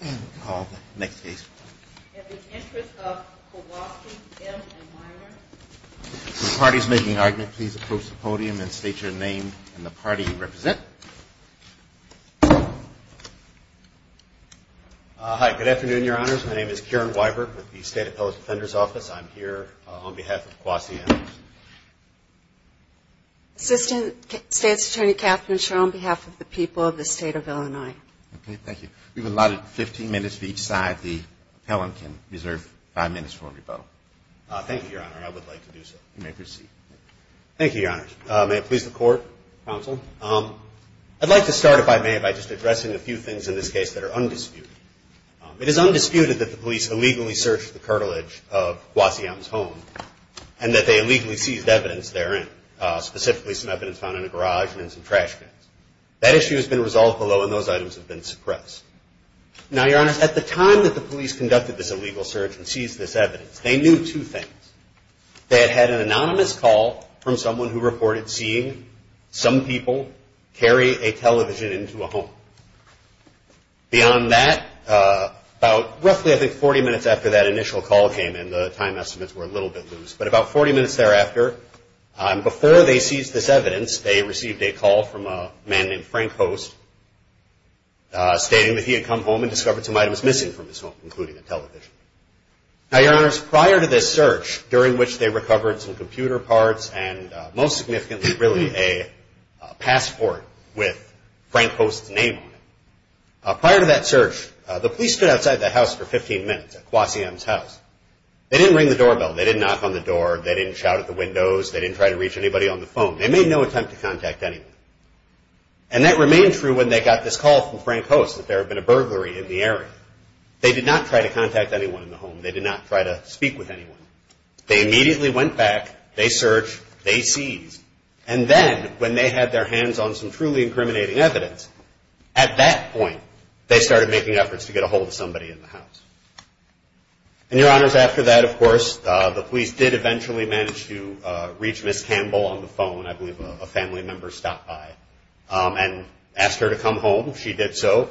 In the Interest of Kwasi M. Weibert. If the party is making an argument, please approach the podium and state your name and the party you represent. Hi. Good afternoon, Your Honors. My name is Kieran Weibert with the State Appellate Defender's Office. I'm here on behalf of Kwasi M. Assistant State's Attorney, Kathryn Scherr, on behalf of the people of the State of Illinois. Okay. Thank you. We've allotted 15 minutes for each side. The appellant can reserve five minutes for rebuttal. Thank you, Your Honor. I would like to do so. You may proceed. Thank you, Your Honors. May it please the Court, Counsel. I'd like to start, if I may, by just addressing a few things in this case that are undisputed. It is undisputed that the police illegally searched the cartilage of Kwasi M.'s home and that they illegally seized evidence therein, specifically some evidence found in a garage and in some trash cans. That issue has been resolved below and those items have been suppressed. Now, Your Honors, at the time that the police conducted this illegal search and seized this evidence, they knew two things. They had had an anonymous call from someone who reported seeing some people carry a television into a home. Beyond that, about roughly, I think, 40 minutes after that initial call came in, the time estimates were a little bit loose, but about 40 minutes thereafter, before they seized this evidence, they received a call from a man named Frank Post, stating that he had come home and discovered some items missing from his home, including a television. Now, Your Honors, prior to this search, during which they recovered some computer parts and most significantly, really, a passport with Frank Post's name on it, prior to that search, the police stood outside the house for 15 minutes at Kwasi M.'s house. They didn't ring the doorbell. They didn't knock on the door. They didn't shout at the windows. They didn't try to reach anybody on the phone. They made no attempt to contact anyone. And that remained true when they got this call from Frank Post that there had been a burglary in the area. They did not try to contact anyone in the home. They did not try to speak with anyone. They immediately went back. They searched. They seized. And then, when they had their hands on some truly incriminating evidence, at that point, they started making efforts to get ahold of somebody in the house. And, Your Honors, after that, of course, the police did eventually manage to reach Ms. Campbell on the phone. I believe a family member stopped by and asked her to come home. She did so.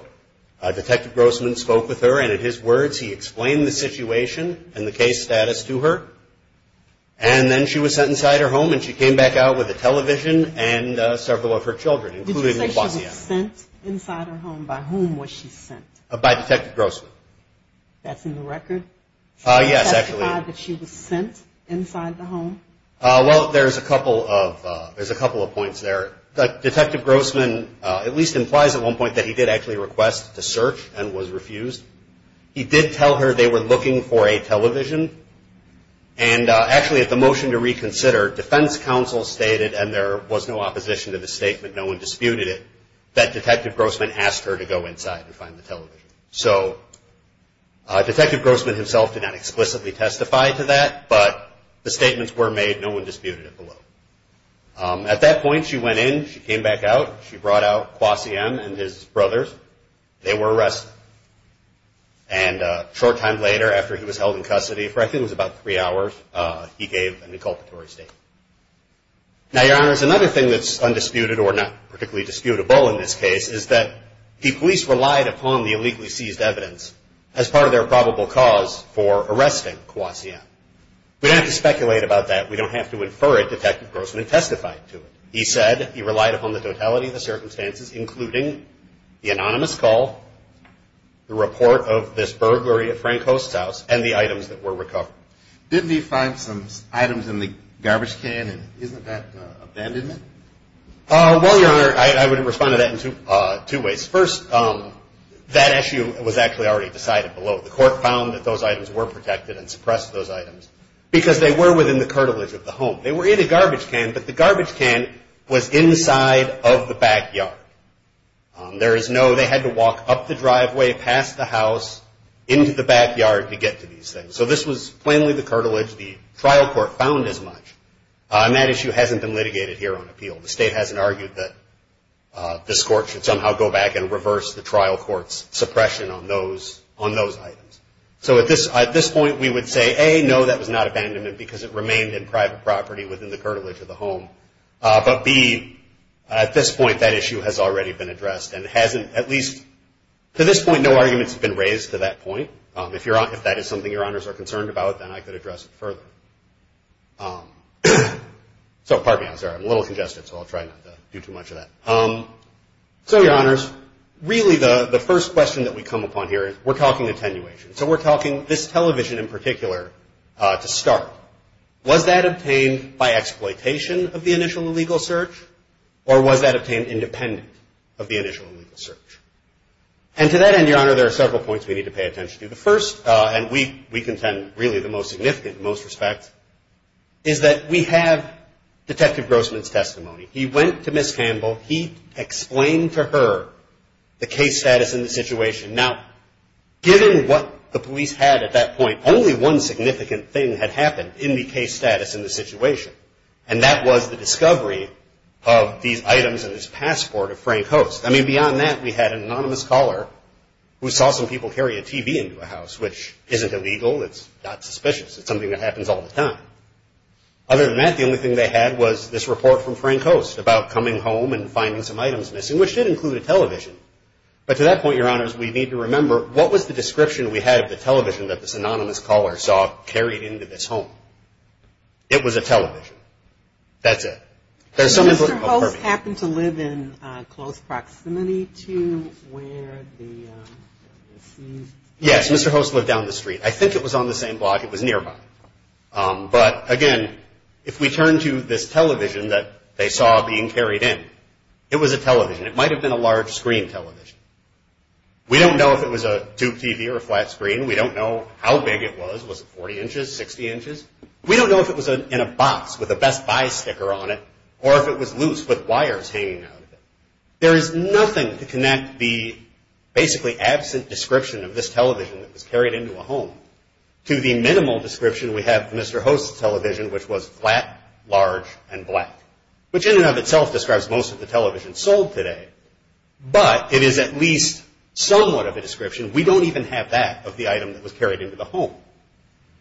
Detective Grossman spoke with her, and, in his words, he explained the situation and the case status to her. And then she was sent inside her home, and she came back out with a television and several of her children, including Ms. Kwasi M.'s. Did you say she was sent inside her home? By whom was she sent? By Detective Grossman. That's in the record? Yes, actually. She testified that she was sent inside the home? Well, there's a couple of points there. Detective Grossman at least implies at one point that he did actually request to search and was refused. He did tell her they were looking for a television. And, actually, at the motion to reconsider, defense counsel stated, and there was no opposition to the statement, no one disputed it, that Detective Grossman asked her to go inside and find the television. So Detective Grossman himself did not explicitly testify to that, but the statements were made. No one disputed it below. At that point, she went in. She came back out. She brought out Kwasi M. and his brothers. They were arrested. And a short time later, after he was held in custody, for I think it was about three hours, he gave an inculpatory statement. Now, Your Honors, another thing that's undisputed, or not particularly disputable in this case, is that the police relied upon the illegally seized evidence as part of their probable cause for arresting Kwasi M. We don't have to speculate about that. We don't have to infer it. Detective Grossman testified to it. He said he relied upon the totality of the circumstances, including the anonymous call, the report of this burglary at Frank Host's house, and the items that were recovered. Didn't he find some items in the garbage can, and isn't that abandonment? Well, Your Honor, I would respond to that in two ways. First, that issue was actually already decided below. The court found that those items were protected and suppressed those items because they were within the cartilage of the home. They were in a garbage can, but the garbage can was inside of the backyard. There is no they had to walk up the driveway, past the house, into the backyard to get to these things. So this was plainly the cartilage. The trial court found as much. And that issue hasn't been litigated here on appeal. The state hasn't argued that this court should somehow go back and reverse the trial court's suppression on those items. So at this point, we would say, A, no, that was not abandonment because it remained in private property within the cartilage of the home. But, B, at this point, that issue has already been addressed and hasn't at least to this point no arguments have been raised to that point. If that is something Your Honors are concerned about, then I could address it further. So, pardon me, I'm sorry. I'm a little congested, so I'll try not to do too much of that. So, Your Honors, really the first question that we come upon here is we're talking attenuation. So we're talking this television in particular to start. Was that obtained by exploitation of the initial illegal search, or was that obtained independent of the initial illegal search? And to that end, Your Honor, there are several points we need to pay attention to. The first, and we contend really the most significant in most respects, is that we have Detective Grossman's testimony. He went to Ms. Campbell. He explained to her the case status and the situation. Now, given what the police had at that point, only one significant thing had happened in the case status and the situation, and that was the discovery of these items and his passport of Frank Host. I mean, beyond that, we had an anonymous caller who saw some people carry a TV into a house, which isn't illegal. It's not suspicious. It's something that happens all the time. Other than that, the only thing they had was this report from Frank Host about coming home and finding some items missing, which did include a television. But to that point, Your Honors, we need to remember, what was the description we had of the television that this anonymous caller saw carried into this home? It was a television. That's it. Does Mr. Host happen to live in close proximity to where this is? Yes, Mr. Host lived down the street. I think it was on the same block. It was nearby. But, again, if we turn to this television that they saw being carried in, it was a television. It might have been a large screen television. We don't know if it was a tube TV or a flat screen. We don't know how big it was. Was it 40 inches, 60 inches? We don't know if it was in a box with a Best Buy sticker on it or if it was loose with wires hanging out of it. There is nothing to connect the basically absent description of this television that was carried into a home to the minimal description we have of Mr. Host's television, which was flat, large, and black, which in and of itself describes most of the television sold today. But it is at least somewhat of a description. We don't even have that of the item that was carried into the home.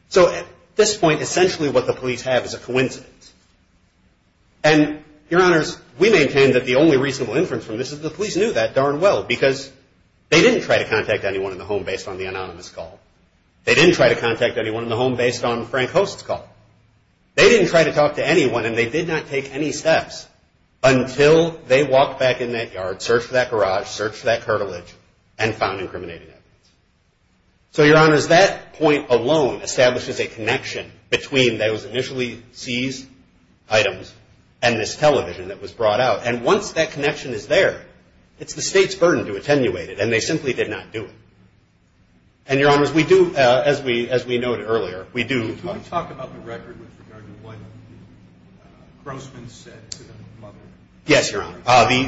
So at this point, essentially what the police have is a coincidence. And, Your Honors, we maintain that the only reasonable inference from this is the police knew that darn well because they didn't try to contact anyone in the home based on the anonymous call. They didn't try to contact anyone in the home based on Frank Host's call. They didn't try to talk to anyone, and they did not take any steps until they walked back in that yard, searched that garage, searched that cartilage, and found incriminating evidence. So, Your Honors, that point alone establishes a connection between those initially seized items and this television that was brought out. And once that connection is there, it's the state's burden to attenuate it, and they simply did not do it. And, Your Honors, we do, as we noted earlier, we do. Could you talk about the record with regard to what Grossman said to the mother? Yes, Your Honor.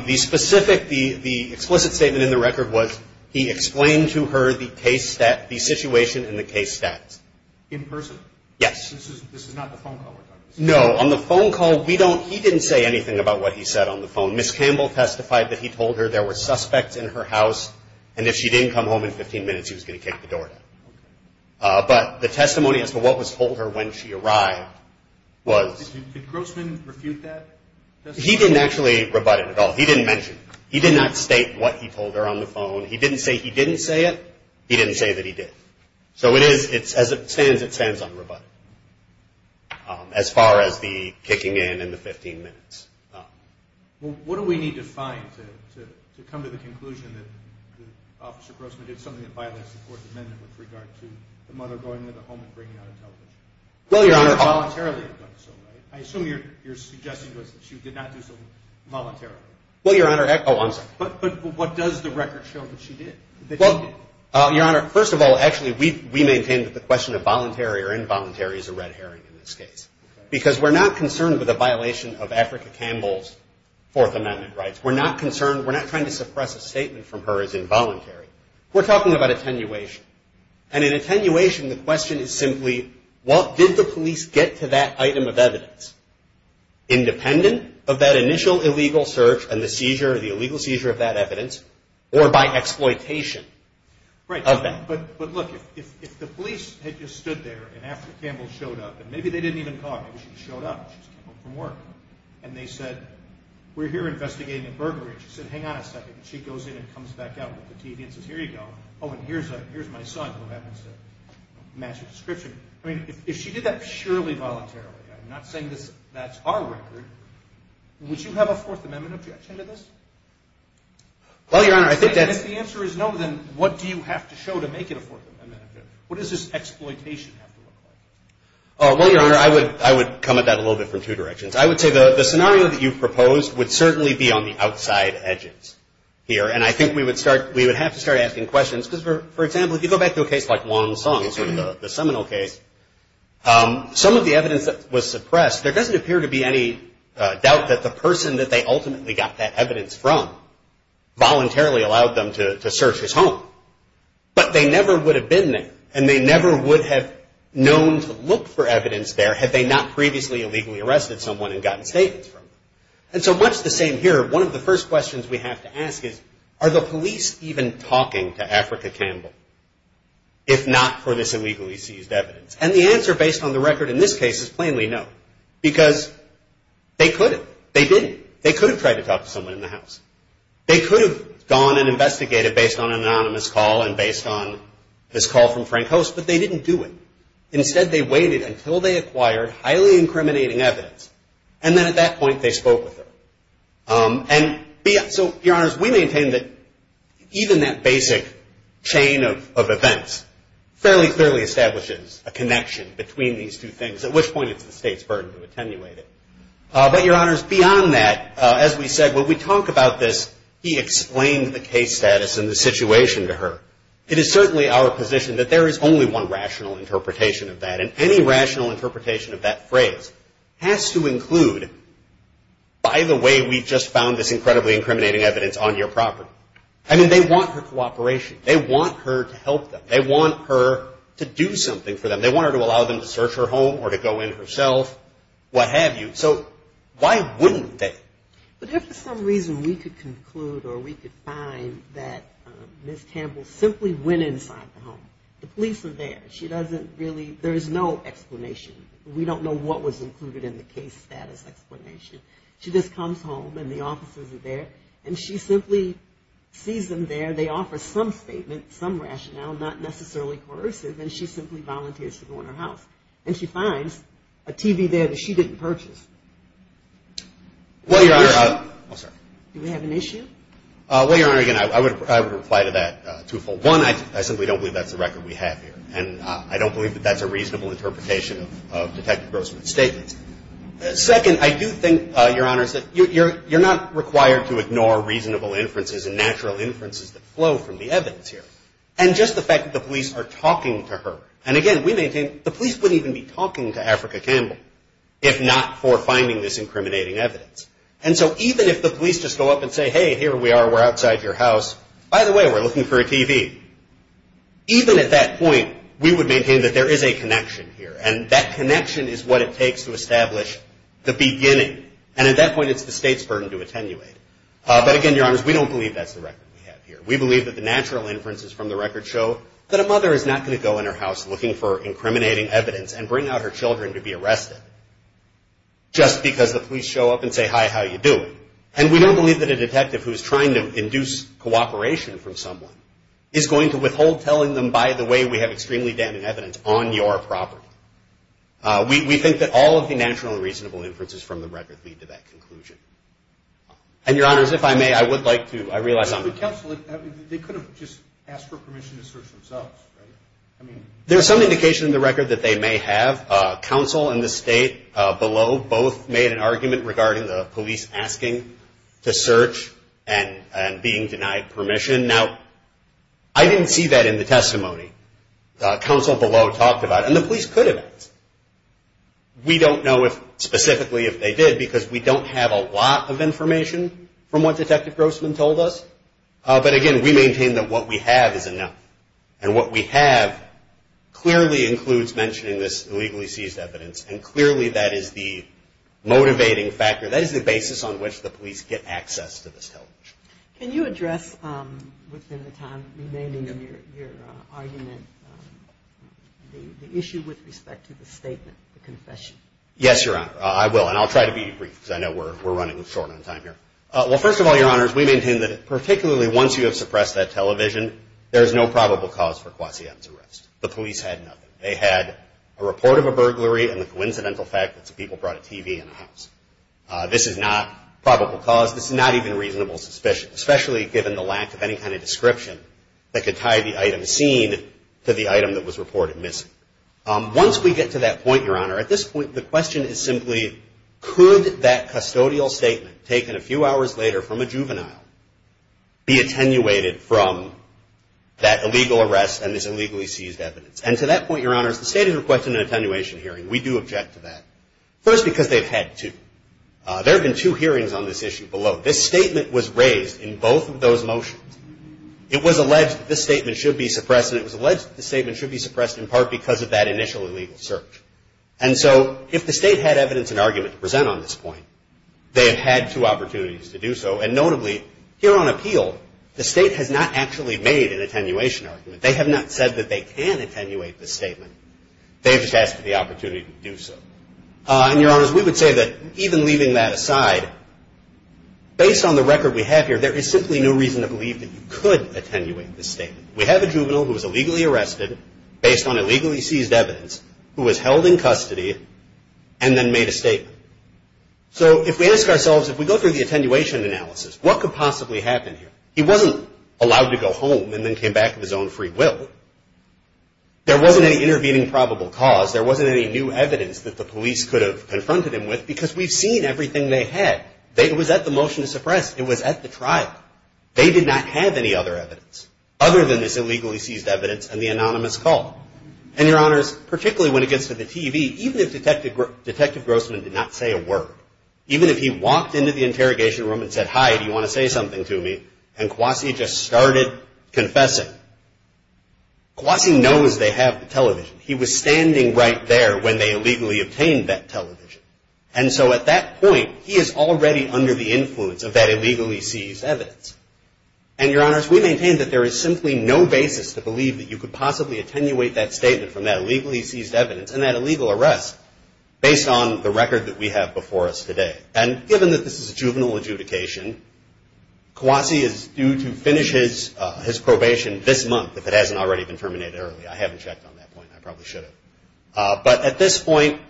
The specific, the explicit statement in the record was he explained to her the situation and the case status. In person? Yes. This is not the phone call? No. On the phone call, we don't, he didn't say anything about what he said on the phone. Ms. Campbell testified that he told her there were suspects in her house, and if she didn't come home in 15 minutes, he was going to kick the door down. But the testimony as to what was told her when she arrived was. Did Grossman refute that testimony? He didn't actually rebut it at all. He didn't mention it. He did not state what he told her on the phone. He didn't say he didn't say it. He didn't say that he did. So it is, as it stands, it stands unrebutted as far as the kicking in and the 15 minutes. What do we need to find to come to the conclusion that Officer Grossman did something that violates the Fourth Amendment with regard to the mother going into the home and bringing out a television? Well, Your Honor. Voluntarily, it does so, right? I assume you're suggesting to us that she did not do so voluntarily. Well, Your Honor. Oh, I'm sorry. But what does the record show that she did? Well, Your Honor, first of all, actually, we maintain that the question of voluntary or involuntary is a red herring in this case because we're not concerned with a violation of Africa Campbell's Fourth Amendment rights. We're not concerned. We're not trying to suppress a statement from her as involuntary. We're talking about attenuation. And in attenuation, the question is simply what did the police get to that item of evidence, independent of that initial illegal search and the seizure, the illegal seizure of that evidence, or by exploitation of that? Right. But, look, if the police had just stood there and Africa Campbell showed up, and maybe they didn't even call her, maybe she just showed up, she just came home from work, and they said, we're here investigating a burglary. She said, hang on a second. She goes in and comes back out with the TV and says, here you go. Oh, and here's my son who happens to match her description. I mean, if she did that surely voluntarily, I'm not saying that's our record, would you have a Fourth Amendment objection to this? Well, Your Honor, I think that's... If the answer is no, then what do you have to show to make it a Fourth Amendment? What does this exploitation have to look like? Well, Your Honor, I would come at that a little bit from two directions. I would say the scenario that you've proposed would certainly be on the outside edges here, and I think we would have to start asking questions. Because, for example, if you go back to a case like Wong Sung, sort of the seminal case, some of the evidence that was suppressed, there doesn't appear to be any doubt that the person that they ultimately got that evidence from voluntarily allowed them to search his home. But they never would have been there, and they never would have known to look for evidence there had they not previously illegally arrested someone and gotten statements from them. And so much the same here, one of the first questions we have to ask is, are the police even talking to Africa Campbell if not for this illegally seized evidence? And the answer, based on the record in this case, is plainly no. Because they could have. They didn't. They could have tried to talk to someone in the house. They could have gone and investigated based on an anonymous call and based on this call from Frank Host, but they didn't do it. Instead, they waited until they acquired highly incriminating evidence, and then at that point they spoke with her. And so, Your Honors, we maintain that even that basic chain of events fairly clearly establishes a connection between these two things, at which point it's the State's burden to attenuate it. But, Your Honors, beyond that, as we said, when we talk about this, he explained the case status and the situation to her. It is certainly our position that there is only one rational interpretation of that, and any rational interpretation of that phrase has to include, by the way, we just found this incredibly incriminating evidence on your property. I mean, they want her cooperation. They want her to help them. They want her to do something for them. They want her to allow them to search her home or to go in herself, what have you. So, why wouldn't they? But if for some reason we could conclude or we could find that Ms. Campbell simply went inside the home, the police are there, she doesn't really, there is no explanation. We don't know what was included in the case status explanation. She just comes home, and the officers are there, and she simply sees them there. They offer some statement, some rationale, not necessarily coercive, and she simply volunteers to go in her house. And she finds a TV there that she didn't purchase. Do we have an issue? Well, Your Honor, again, I would reply to that twofold. One, I simply don't believe that's the record we have here, and I don't believe that that's a reasonable interpretation of Detective Grossman's statements. Second, I do think, Your Honor, that you're not required to ignore reasonable inferences and natural inferences that flow from the evidence here. And just the fact that the police are talking to her, and again, we maintain, the police wouldn't even be talking to Africa Campbell if not for finding this incriminating evidence. And so even if the police just go up and say, hey, here we are, we're outside your house. By the way, we're looking for a TV. Even at that point, we would maintain that there is a connection here, and that connection is what it takes to establish the beginning. And at that point, it's the State's burden to attenuate. But again, Your Honors, we don't believe that's the record we have here. We believe that the natural inferences from the record show that a mother is not going to go in her house looking for incriminating evidence and bring out her children to be arrested just because the police show up and say, hi, how are you doing? And we don't believe that a detective who's trying to induce cooperation from someone is going to withhold telling them, by the way, we have extremely damning evidence on your property. We think that all of the natural and reasonable inferences from the record lead to that conclusion. And, Your Honors, if I may, I would like to – I realize I'm – Counsel, they could have just asked for permission to search themselves, right? I mean – There's some indication in the record that they may have. Counsel and the State below both made an argument regarding the police asking to search and being denied permission. Now, I didn't see that in the testimony. Counsel below talked about it. And the police could have asked. We don't know specifically if they did because we don't have a lot of information from what Detective Grossman told us. But, again, we maintain that what we have is enough. And what we have clearly includes mentioning this illegally seized evidence. And clearly that is the motivating factor. That is the basis on which the police get access to this television. Can you address within the time remaining in your argument the issue with respect to the statement, the confession? Yes, Your Honor. I will. And I'll try to be brief because I know we're running short on time here. Well, first of all, Your Honors, we maintain that particularly once you have suppressed that television, there is no probable cause for Quassian's arrest. The police had nothing. They had a report of a burglary and the coincidental fact that some people brought a TV in the house. This is not probable cause. This is not even reasonable suspicion, especially given the lack of any kind of description that could tie the item seen to the item that was reported missing. Once we get to that point, Your Honor, at this point the question is simply, could that custodial statement taken a few hours later from a juvenile be attenuated from that illegal arrest and this illegally seized evidence? And to that point, Your Honors, the State has requested an attenuation hearing. We do object to that. First, because they've had two. There have been two hearings on this issue below. This statement was raised in both of those motions. It was alleged that this statement should be suppressed, and it was alleged that this statement should be suppressed in part because of that initial illegal search. And so if the State had evidence and argument to present on this point, they have had two opportunities to do so. And notably, here on appeal, the State has not actually made an attenuation argument. They have not said that they can attenuate this statement. They've just asked for the opportunity to do so. And, Your Honors, we would say that even leaving that aside, based on the record we have here, there is simply no reason to believe that you could attenuate this statement. We have a juvenile who was illegally arrested, based on illegally seized evidence, who was held in custody and then made a statement. So if we ask ourselves, if we go through the attenuation analysis, what could possibly happen here? He wasn't allowed to go home and then came back with his own free will. There wasn't any intervening probable cause. There wasn't any new evidence that the police could have confronted him with because we've seen everything they had. It was at the motion to suppress. It was at the trial. They did not have any other evidence other than this illegally seized evidence and the anonymous call. And, Your Honors, particularly when it gets to the TV, even if Detective Grossman did not say a word, even if he walked into the interrogation room and said, hi, do you want to say something to me, and Kwasi just started confessing, Kwasi knows they have the television. He was standing right there when they illegally obtained that television. And so at that point, he is already under the influence of that illegally seized evidence. And, Your Honors, we maintain that there is simply no basis to believe that you could possibly attenuate that statement from that illegally seized evidence and that illegal arrest based on the record that we have before us today. And given that this is a juvenile adjudication, Kwasi is due to finish his probation this month, if it hasn't already been terminated early. I haven't checked on that point. I probably should have. But at this point,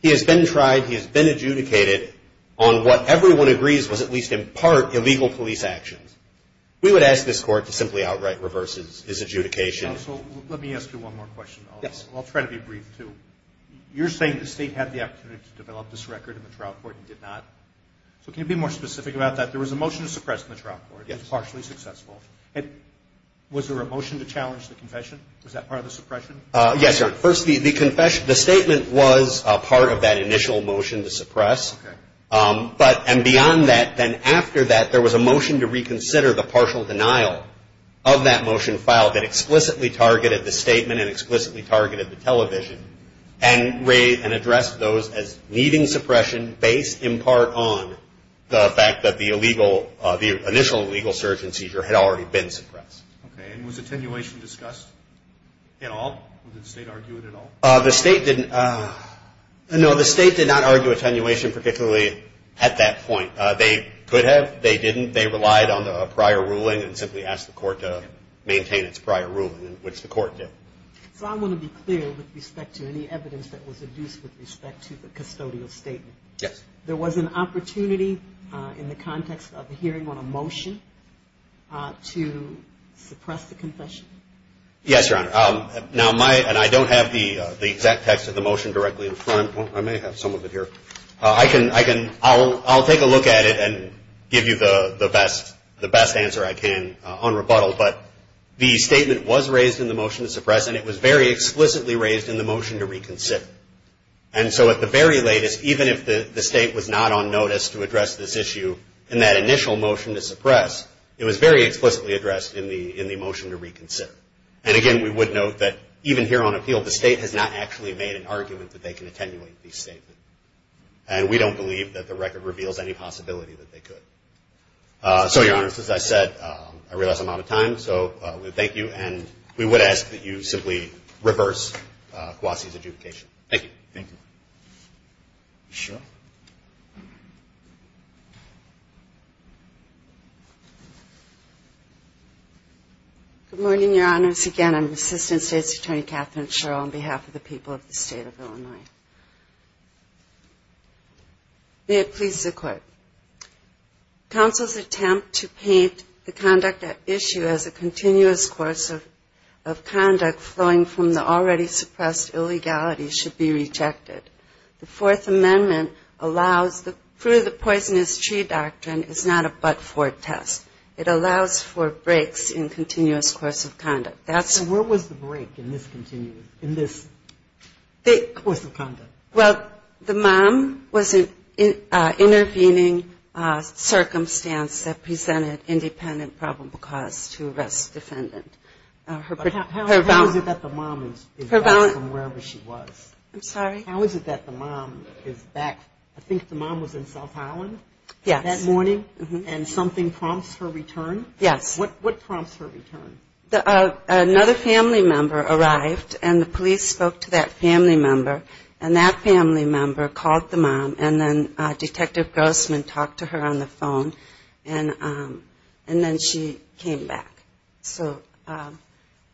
he has been tried, he has been adjudicated on what everyone agrees was, at least in part, illegal police actions. We would ask this Court to simply outright reverse his adjudication. Counsel, let me ask you one more question. Yes. I'll try to be brief, too. You're saying the State had the opportunity to develop this record in the trial court and did not. So can you be more specific about that? There was a motion to suppress in the trial court. Yes. It was partially successful. Was there a motion to challenge the confession? Was that part of the suppression? Yes, Your Honor. First, the statement was part of that initial motion to suppress. Okay. And beyond that, then after that, there was a motion to reconsider the partial denial of that motion filed that explicitly targeted the statement and explicitly targeted the television and addressed those as needing suppression based, in part, on the fact that the initial illegal search and seizure had already been suppressed. Okay. And was attenuation discussed at all? Did the State argue it at all? The State did not argue attenuation particularly at that point. They could have. They didn't. They relied on a prior ruling and simply asked the Court to maintain its prior ruling, which the Court did. So I want to be clear with respect to any evidence that was adduced with respect to the custodial statement. Yes. There was an opportunity in the context of a hearing on a motion to suppress the confession? Yes, Your Honor. Now, I don't have the exact text of the motion directly in front. I may have some of it here. I'll take a look at it and give you the best answer I can on rebuttal. But the statement was raised in the motion to suppress, and it was very explicitly raised in the motion to reconsider. And so at the very latest, even if the State was not on notice to address this issue in that initial motion to suppress, it was very explicitly addressed in the motion to reconsider. And, again, we would note that even here on appeal, the State has not actually made an argument that they can attenuate these statements. And we don't believe that the record reveals any possibility that they could. So, Your Honor, as I said, I realize I'm out of time. So we thank you. And we would ask that you simply reverse Quasi's adjudication. Thank you. Thank you. Cheryl. Good morning, Your Honors. Again, I'm Assistant State's Attorney Katherine Sherrill on behalf of the people of the State of Illinois. May it please the Court. Counsel's attempt to paint the conduct at issue as a continuous course of conduct flowing from the already suppressed illegality should be rejected. The Fourth Amendment allows the fruit-of-the-poisonous-tree doctrine is not a but-for test. It allows for breaks in continuous course of conduct. So where was the break in this course of conduct? Well, the mom was intervening circumstance that presented independent probable cause to arrest defendant. How is it that the mom is back from wherever she was? I'm sorry? How is it that the mom is back? I think the mom was in South Island that morning? Yes. And something prompts her return? Yes. What prompts her return? Another family member arrived, and the police spoke to that family member, and that family member called the mom, and then Detective Grossman talked to her on the phone, and then she came back. So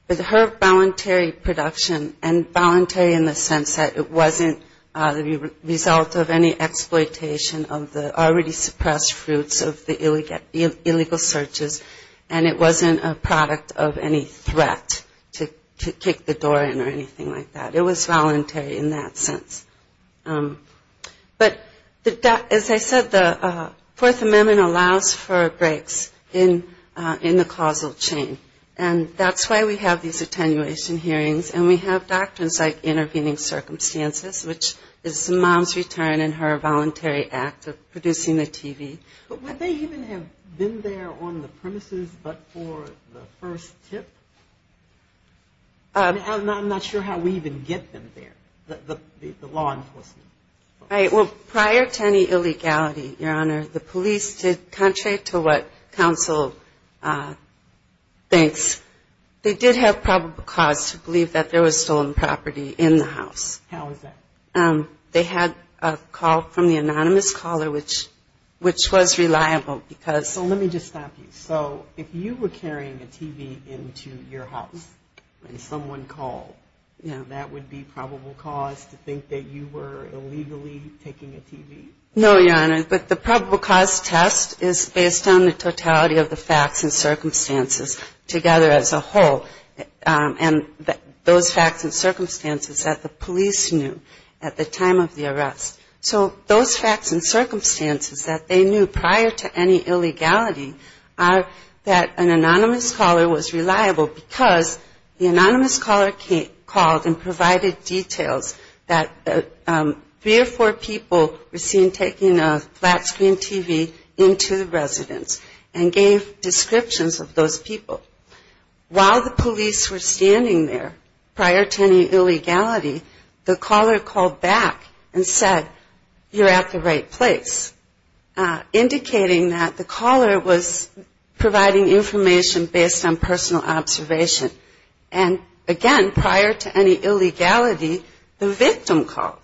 with her voluntary production, and voluntary in the sense that it wasn't the result of any exploitation of the already suppressed fruits of the illegal searches, and it wasn't a product of any threat to kick the door in or anything like that. It was voluntary in that sense. But as I said, the Fourth Amendment allows for breaks in the causal chain, and that's why we have these attenuation hearings, and we have doctrines like intervening circumstances, which is the mom's return and her voluntary act of producing the TV. But would they even have been there on the premises but for the first tip? I'm not sure how we even get them there, the law enforcement. Right. Well, prior to any illegality, Your Honor, the police did, contrary to what counsel thinks, they did have probable cause to believe that there was stolen property in the house. How is that? They had a call from the anonymous caller, which was reliable because ‑‑ So let me just stop you. So if you were carrying a TV into your house and someone called, that would be probable cause to think that you were illegally taking a TV? No, Your Honor, but the probable cause test is based on the totality of the facts and circumstances together as a whole. And those facts and circumstances that the police knew at the time of the arrest. So those facts and circumstances that they knew prior to any illegality are that an anonymous caller was reliable because the anonymous caller called and provided details that three or four people were seen taking a flat screen TV into the residence and gave descriptions of those people. While the police were standing there, prior to any illegality, the caller called back and said, you're at the right place, indicating that the caller was providing information based on personal observation. And again, prior to any illegality, the victim called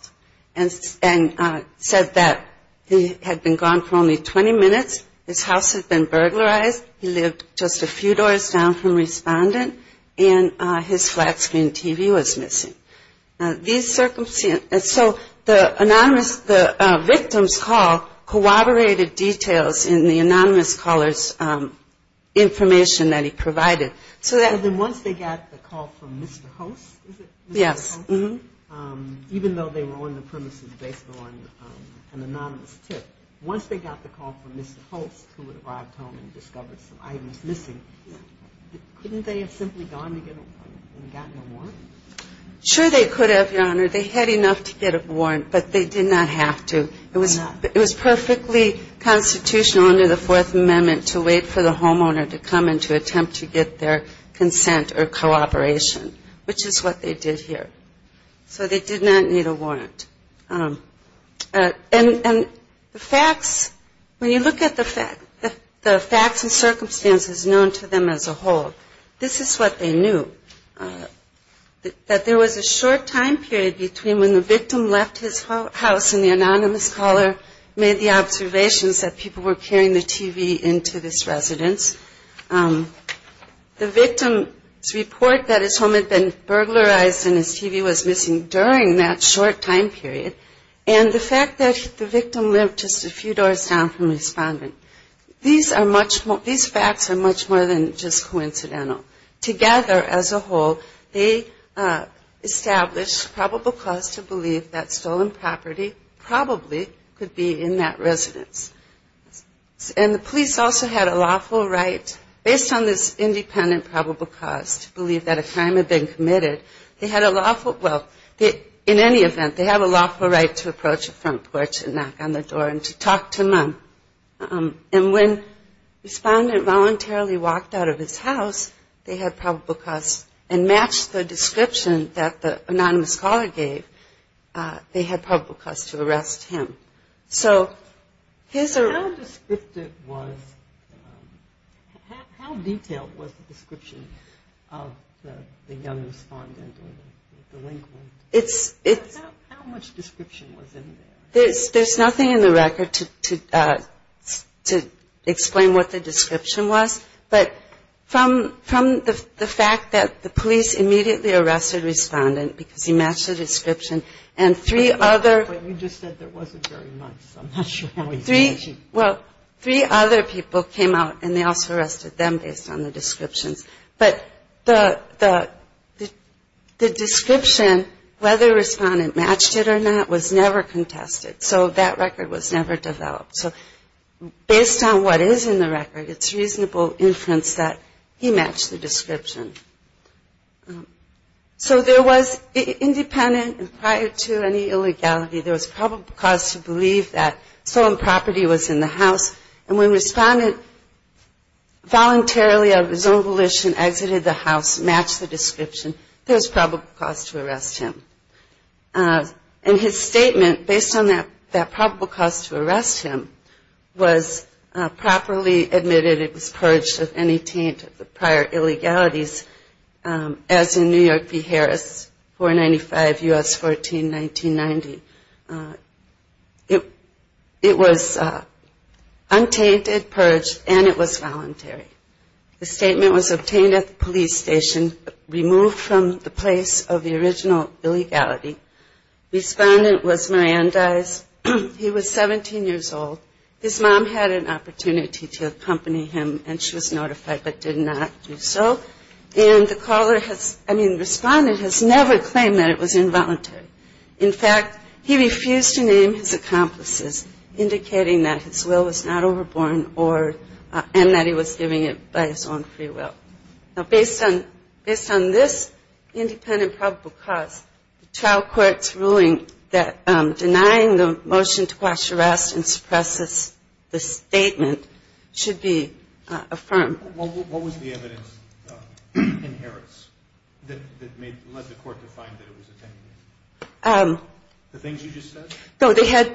and said that he had been gone for only 20 minutes, his house had been burglarized, he lived just a few doors down from Respondent, and his flat screen TV was missing. So the victim's call corroborated details in the anonymous caller's information that he provided. So then once they got the call from Mr. Host, is it? Yes. Even though they were on the premises based on an anonymous tip, once they got the call from Mr. Host, who had arrived home and discovered some items missing, couldn't they have simply gone and gotten a warrant? Sure they could have, Your Honor. They had enough to get a warrant, but they did not have to. It was perfectly constitutional under the Fourth Amendment to wait for the homeowner to come and to attempt to get their consent or cooperation, which is what they did here. So they did not need a warrant. And the facts, when you look at the facts and circumstances known to them as a whole, this is what they knew, that there was a short time period between when the victim left his house and the anonymous caller made the observations that people were carrying the TV into this residence. The victim's report that his home had been burglarized and his TV was missing during that short time period and the fact that the victim lived just a few doors down from the respondent, these facts are much more than just coincidental. Together as a whole, they established probable cause to believe that stolen property probably could be in that residence. And the police also had a lawful right, based on this independent probable cause, to believe that a crime had been committed. They had a lawful, well, in any event, they have a lawful right to approach a front porch and knock on the door and to talk to none. And when the respondent voluntarily walked out of his house, they had probable cause, and matched the description that the anonymous caller gave, they had probable cause to arrest him. How detailed was the description of the young respondent or the delinquent? How much description was in there? There's nothing in the record to explain what the description was, but from the fact that the police immediately arrested the respondent because he matched the description, and three other people came out and they also arrested them based on the descriptions. But the description, whether a respondent matched it or not, was never contested. So that record was never developed. So based on what is in the record, it's reasonable inference that he matched the description. So there was independent and prior to any illegality, there was probable cause to believe that stolen property was in the house. And when a respondent voluntarily of his own volition exited the house, matched the description, there was probable cause to arrest him. And his statement, based on that probable cause to arrest him, was properly admitted it was purged of any taint of the prior illegalities as in New York v. Harris, 495 U.S. 14-1990. It was untainted, purged, and it was voluntary. The statement was obtained at the police station, removed from the place of the original illegality. Respondent was Mirandez. He was 17 years old. His mom had an opportunity to accompany him, and she was notified but did not do so. And the caller has, I mean, the respondent has never claimed that it was involuntary. In fact, he refused to name his accomplices, indicating that his will was not overborne and that he was giving it by his own free will. Now, based on this independent probable cause, the trial court's ruling that denying the motion to quash arrest and suppress this statement should be affirmed. What was the evidence in Harris that led the court to find that it was attempted? The things you just said?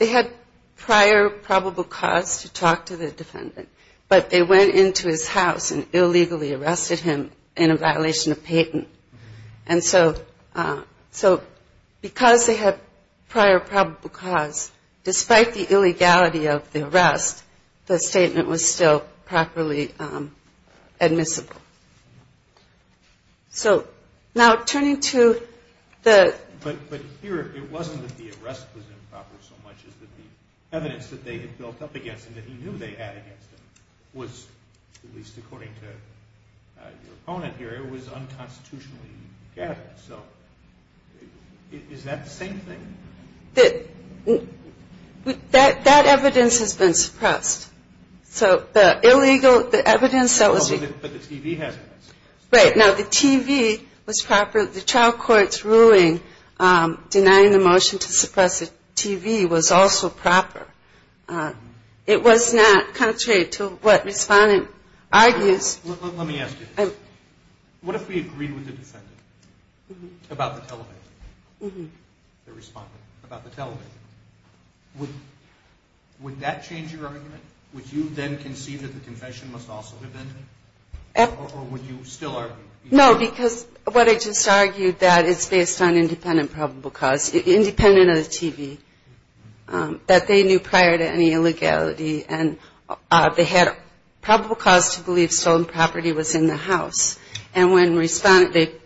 They had prior probable cause to talk to the defendant, but they went into his house and illegally arrested him in a violation of patent. And so because they had prior probable cause, despite the illegality of the arrest, the statement was still properly admissible. So now turning to the – But here it wasn't that the arrest was improper so much as that the evidence that they had built up against him that he knew they had against him was, at least according to your opponent here, it was unconstitutionally gathered. So is that the same thing? That evidence has been suppressed. So the illegal – the evidence that was – But the TV hasn't been suppressed. Right. Now, the TV was proper. The trial court's ruling denying the motion to suppress the TV was also proper. It was not contrary to what respondent argues. Let me ask you this. What if we agreed with the defendant about the television, the respondent, about the television? Would that change your argument? Would you then concede that the confession must also have been? Or would you still argue? No, because what I just argued, that it's based on independent probable cause, independent of the TV, that they knew prior to any illegality, and they had probable cause to believe stolen property was in the house. And when respondent –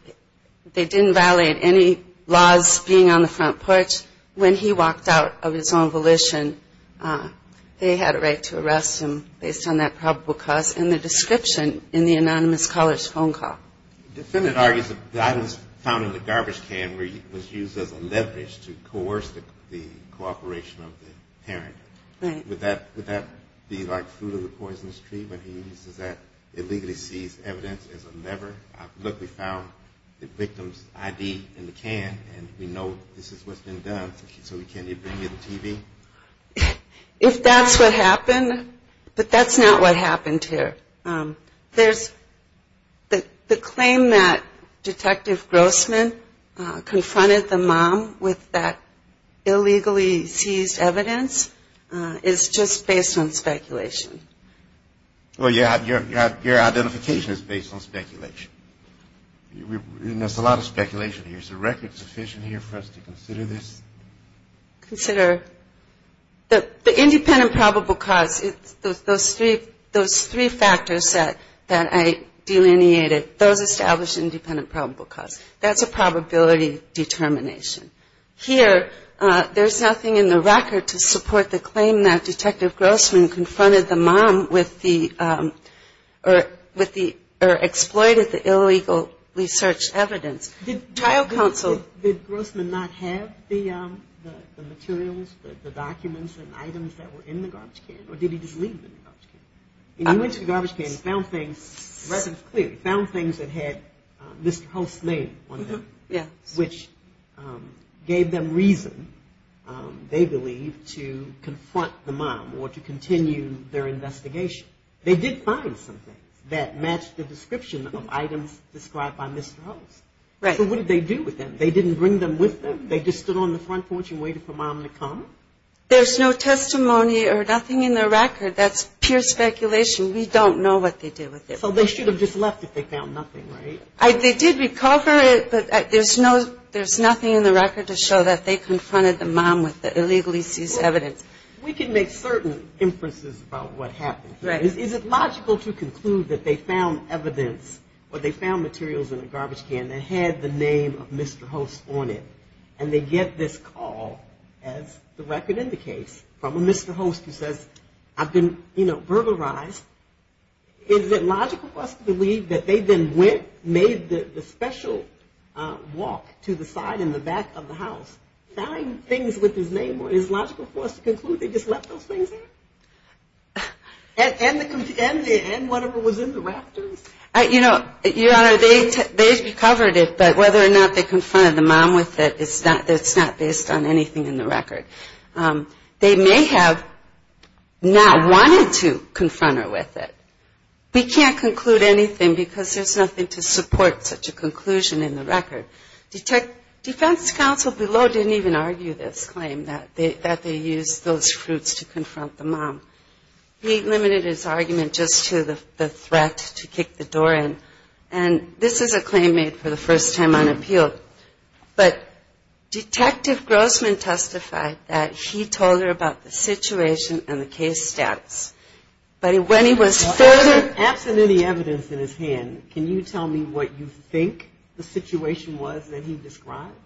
they didn't violate any laws being on the front porch. When he walked out of his own volition, they had a right to arrest him based on that probable cause in the description in the anonymous caller's phone call. The defendant argues that the item was found in the garbage can where it was used as a leverage to coerce the cooperation of the parent. Right. Would that be like food of the poisonous tree when he uses that illegally seized evidence as a lever? Look, we found the victim's ID in the can, and we know this is what's been done. So can you bring me the TV? If that's what happened. But that's not what happened here. The claim that Detective Grossman confronted the mom with that illegally seized evidence is just based on speculation. Well, your identification is based on speculation. There's a lot of speculation here. Is the record sufficient here for us to consider this? Consider the independent probable cause. Those three factors that I delineated, those establish independent probable cause. That's a probability determination. Here, there's nothing in the record to support the claim that Detective Grossman confronted the mom with the – or exploited the illegally searched evidence. Did Grossman not have the materials, the documents and items that were in the garbage can? Or did he just leave them in the garbage can? When he went to the garbage can, he found things. The record's clear. He found things that had Mr. Hulse's name on them, which gave them reason, they believe, to confront the mom or to continue their investigation. They did find some things that matched the description of items described by Mr. Hulse. Right. So what did they do with them? They didn't bring them with them? They just stood on the front porch and waited for mom to come? There's no testimony or nothing in the record. That's pure speculation. We don't know what they did with it. So they should have just left if they found nothing, right? They did recover it, but there's nothing in the record to show that they confronted the mom with the illegally seized evidence. We can make certain inferences about what happened. Is it logical to conclude that they found evidence or they found materials in the garbage can that had the name of Mr. Hulse on it? And they get this call, as the record indicates, from a Mr. Hulse who says, I've been, you know, burglarized. Is it logical for us to believe that they then went, made the special walk to the side and the back of the house, found things with his name on it? Is it logical for us to conclude they just left those things there? And whatever was in the rafters? You know, Your Honor, they recovered it, but whether or not they confronted the mom with it, it's not based on anything in the record. They may have not wanted to confront her with it. We can't conclude anything because there's nothing to support such a conclusion in the record. Defense counsel below didn't even argue this claim that they used those fruits to confront the mom. He limited his argument just to the threat to kick the door in. And this is a claim made for the first time on appeal. But Detective Grossman testified that he told her about the situation and the case status. But when he was further...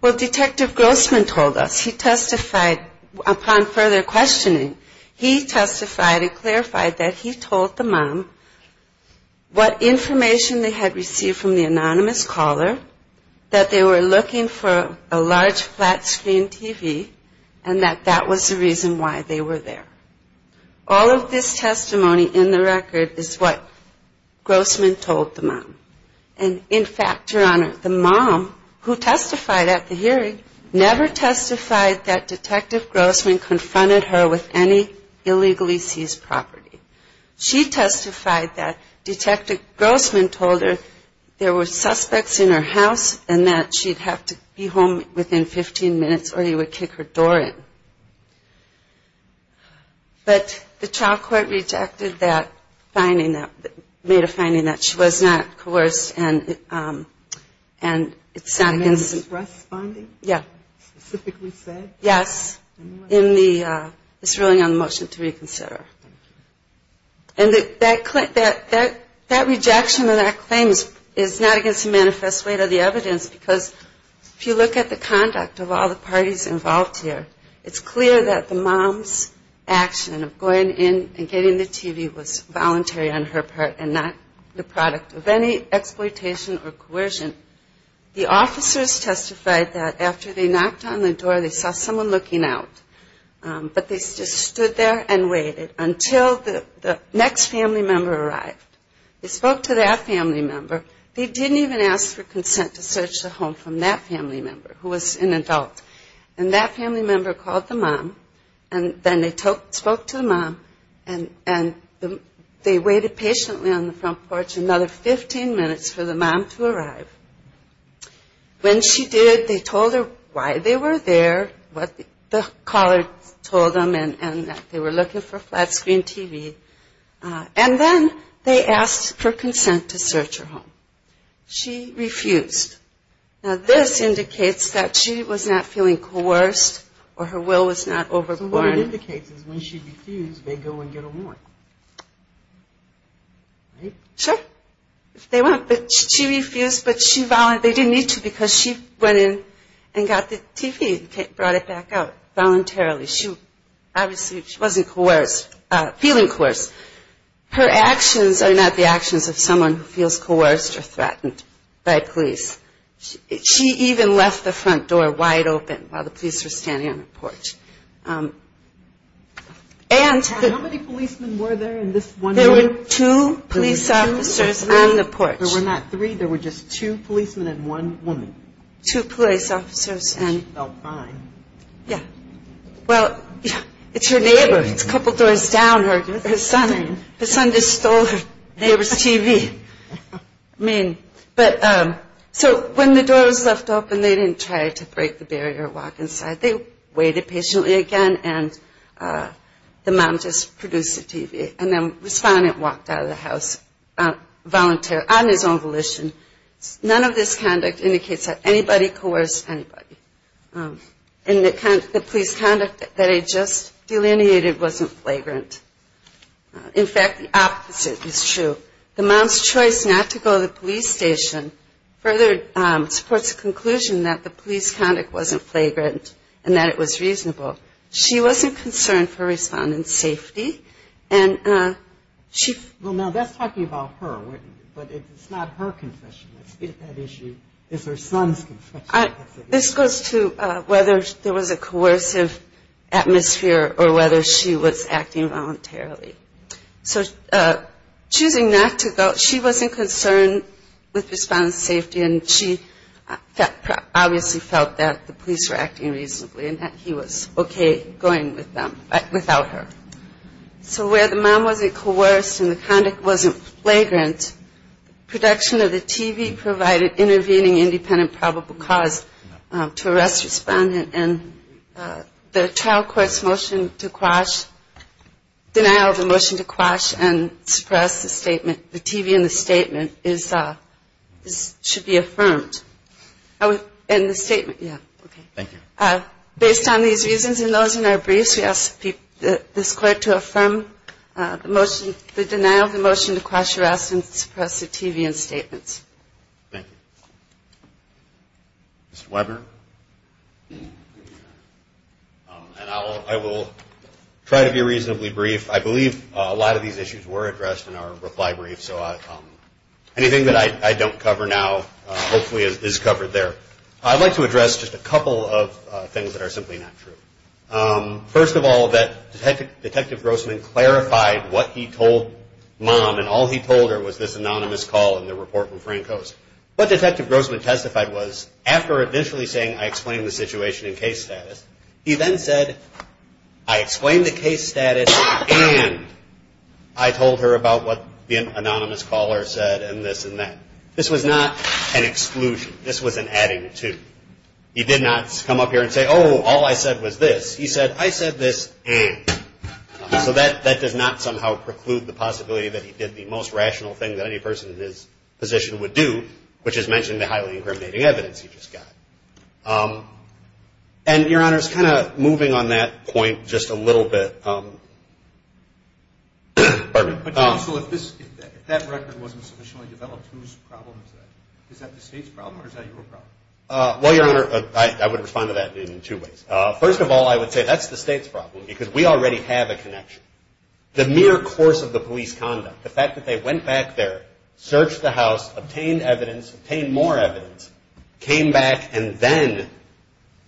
Well, Detective Grossman told us. He testified upon further questioning. He testified and clarified that he told the mom what information they had received from the anonymous caller, that they were looking for a large flat screen TV, and that that was the reason why they were there. All of this testimony in the record is what Grossman told the mom. And, in fact, Your Honor, the mom, who testified at the hearing, never testified that Detective Grossman confronted her with any illegally seized property. She testified that Detective Grossman told her there were suspects in her house and that she'd have to be home within 15 minutes or he would kick her door in. But the trial court rejected that finding, made a finding that she was not coerced. And it's not against... In the distress finding? Yeah. Specifically said? Yes. In the... It's really on the motion to reconsider. And that rejection of that claim is not against the manifest weight of the evidence because if you look at the conduct of all the parties involved here, it's clear that the mom's action of going in and getting the TV was voluntary on her part and not the product of any exploitation or coercion. The officers testified that after they knocked on the door, they saw someone looking out. But they just stood there and waited until the next family member arrived. They spoke to that family member. They didn't even ask for consent to search the home from that family member, who was an adult. And that family member called the mom, and then they spoke to the mom, and they waited patiently on the front porch another 15 minutes for the mom to arrive. When she did, they told her why they were there, what the caller told them, and that they were looking for a flat screen TV. And then they asked for consent to search her home. She refused. Now, this indicates that she was not feeling coerced or her will was not overborn. So what it indicates is when she refused, they go and get her more. Right? Sure. They went, but she refused, but they didn't need to because she went in and got the TV and brought it back out voluntarily. Obviously, she wasn't feeling coerced. Her actions are not the actions of someone who feels coerced or threatened by police. She even left the front door wide open while the police were standing on the porch. How many policemen were there in this one room? There were two police officers on the porch. There were not three. There were just two policemen and one woman. Two police officers. She felt fine. Yeah. Well, it's her neighbor. It's a couple doors down. Her son just stole her neighbor's TV. So when the door was left open, they didn't try to break the barrier or walk inside. They waited patiently again, and the mom just produced the TV. And then the respondent walked out of the house on his own volition. None of this conduct indicates that anybody coerced anybody. And the police conduct that I just delineated wasn't flagrant. In fact, the opposite is true. The mom's choice not to go to the police station further supports the conclusion that the police conduct wasn't flagrant and that it was reasonable. She wasn't concerned for respondent's safety. Well, now that's talking about her, but it's not her confession. It's that issue. It's her son's confession. This goes to whether there was a coercive atmosphere or whether she was acting voluntarily. So choosing not to go, she wasn't concerned with respondent's safety, and she obviously felt that the police were acting reasonably and that he was okay going with them without her. So where the mom wasn't coerced and the conduct wasn't flagrant, production of the TV provided intervening independent probable cause to arrest respondent and the trial court's motion to quash, denial of the motion to quash and suppress the statement, the TV and the statement should be affirmed. And the statement, yeah. Thank you. Based on these reasons and those in our briefs, this court to affirm the motion, the denial of the motion to quash, arrest and suppress the TV and statements. Thank you. Mr. Webber. And I will try to be reasonably brief. I believe a lot of these issues were addressed in our reply brief, so anything that I don't cover now hopefully is covered there. I'd like to address just a couple of things that are simply not true. First of all, that Detective Grossman clarified what he told mom and all he told her was this anonymous call in the report from Franco's. What Detective Grossman testified was, after initially saying, I explained the situation in case status, he then said, I explained the case status and I told her about what the anonymous caller said and this and that. This was not an exclusion. This was an adding to. He did not come up here and say, oh, all I said was this. He said, I said this and. So that does not somehow preclude the possibility that he did the most rational thing that any person in his position would do, which is mention the highly incriminating evidence he just got. And, Your Honor, just kind of moving on that point just a little bit. Pardon me. So if that record wasn't sufficiently developed, whose problem is that? Is that the state's problem or is that your problem? Well, Your Honor, I would respond to that in two ways. First of all, I would say that's the state's problem because we already have a connection. The mere course of the police conduct, the fact that they went back there, searched the house, obtained evidence, obtained more evidence, came back and then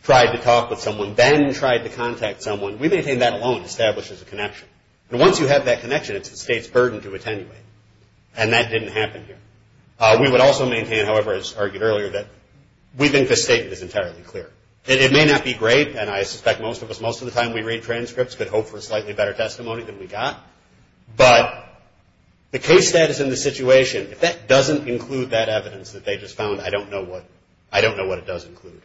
tried to talk with someone, then tried to contact someone, we maintain that alone establishes a connection. And once you have that connection, it's the state's burden to attenuate. And that didn't happen here. We would also maintain, however, as argued earlier, that we think this statement is entirely clear. It may not be great, and I suspect most of us, most of the time we read transcripts, could hope for a slightly better testimony than we got. But the case status in the situation, if that doesn't include that evidence that they just found, I don't know what. I don't know what it does include.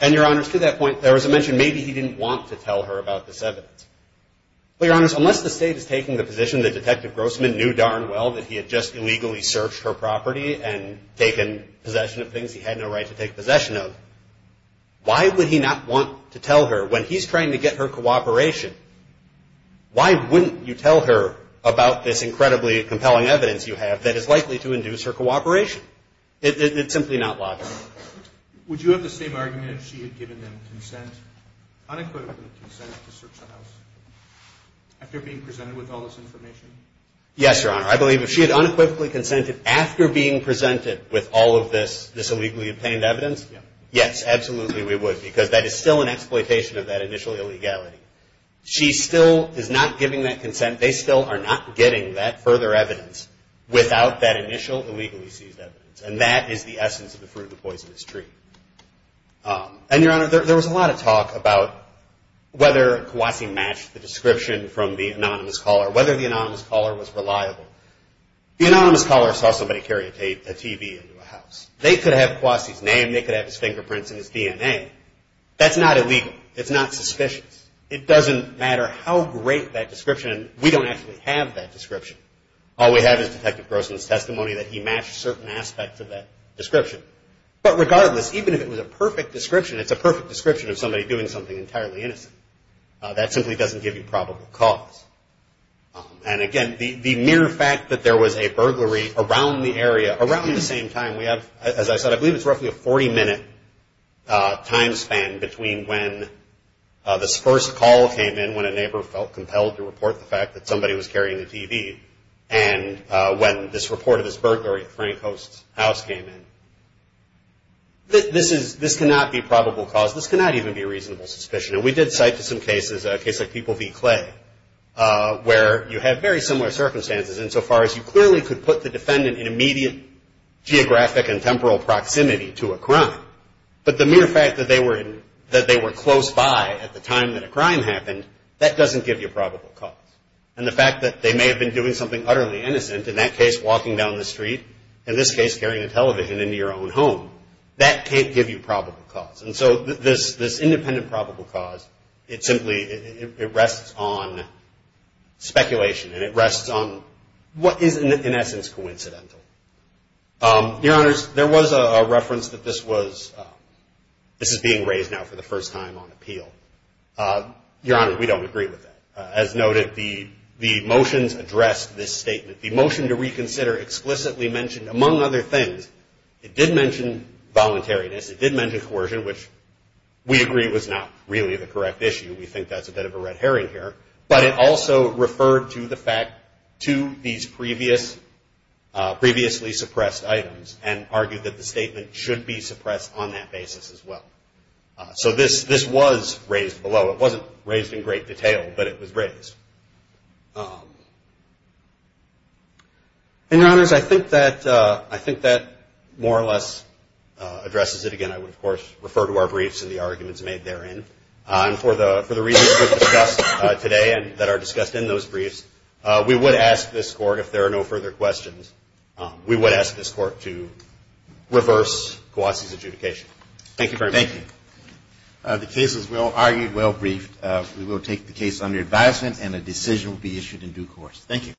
And, Your Honors, to that point, there was a mention maybe he didn't want to tell her about this evidence. Well, Your Honors, unless the state is taking the position that Detective Grossman knew darn well that he had just illegally searched her property and taken possession of things he had no right to take possession of, why would he not want to tell her when he's trying to get her cooperation? Why wouldn't you tell her about this incredibly compelling evidence you have that is likely to induce her cooperation? It's simply not logical. Would you have the same argument if she had given them consent, unequivocally consent, to search the house after being presented with all this information? Yes, Your Honor. I believe if she had unequivocally consented after being presented with all of this illegally obtained evidence, yes, absolutely we would because that is still an exploitation of that initial illegality. She still is not giving that consent. They still are not getting that further evidence without that initial illegally seized evidence. And that is the essence of the fruit of the poisonous tree. And, Your Honor, there was a lot of talk about whether Kwasi matched the description from the anonymous caller, whether the anonymous caller was reliable. The anonymous caller saw somebody carry a TV into a house. They could have Kwasi's name. They could have his fingerprints and his DNA. That's not illegal. It's not suspicious. It doesn't matter how great that description is. We don't actually have that description. All we have is Detective Grossman's testimony that he matched certain aspects of that description. But, regardless, even if it was a perfect description, it's a perfect description of somebody doing something entirely innocent. That simply doesn't give you probable cause. And, again, the mere fact that there was a burglary around the area, around the same time, we have, as I said, I believe it's roughly a 40-minute time span between when this first call came in, when a neighbor felt compelled to report the fact that somebody was carrying the TV, and when this report of this burglary at Frank Host's house came in. This cannot be probable cause. This cannot even be reasonable suspicion. And we did cite to some cases, a case like People v. Clay, where you have very similar circumstances insofar as you clearly could put the defendant in immediate geographic and temporal proximity to a crime. But the mere fact that they were close by at the time that a crime happened, that doesn't give you probable cause. And the fact that they may have been doing something utterly innocent, in that case, walking down the street, in this case, carrying a television into your own home, that can't give you probable cause. And so this independent probable cause, it simply, it rests on speculation, and it rests on what is, in essence, coincidental. Your Honors, there was a reference that this was, this is being raised now for the first time on appeal. Your Honors, we don't agree with that. As noted, the motions addressed this statement. The motion to reconsider explicitly mentioned, among other things, it did mention voluntariness, it did mention coercion, which we agree was not really the correct issue. We think that's a bit of a red herring here. But it also referred to the fact, to these previously suppressed items, and argued that the statement should be suppressed on that basis as well. So this was raised below. It wasn't raised in great detail, but it was raised. And, Your Honors, I think that more or less addresses it. Again, I would, of course, refer to our briefs and the arguments made therein. And for the reasons we've discussed today and that are discussed in those briefs, we would ask this Court, if there are no further questions, we would ask this Court to reverse Guassi's adjudication. Thank you very much. Thank you. The case, as we all argued, well briefed. We will take the case under advisement and a decision will be issued in due course. Thank you.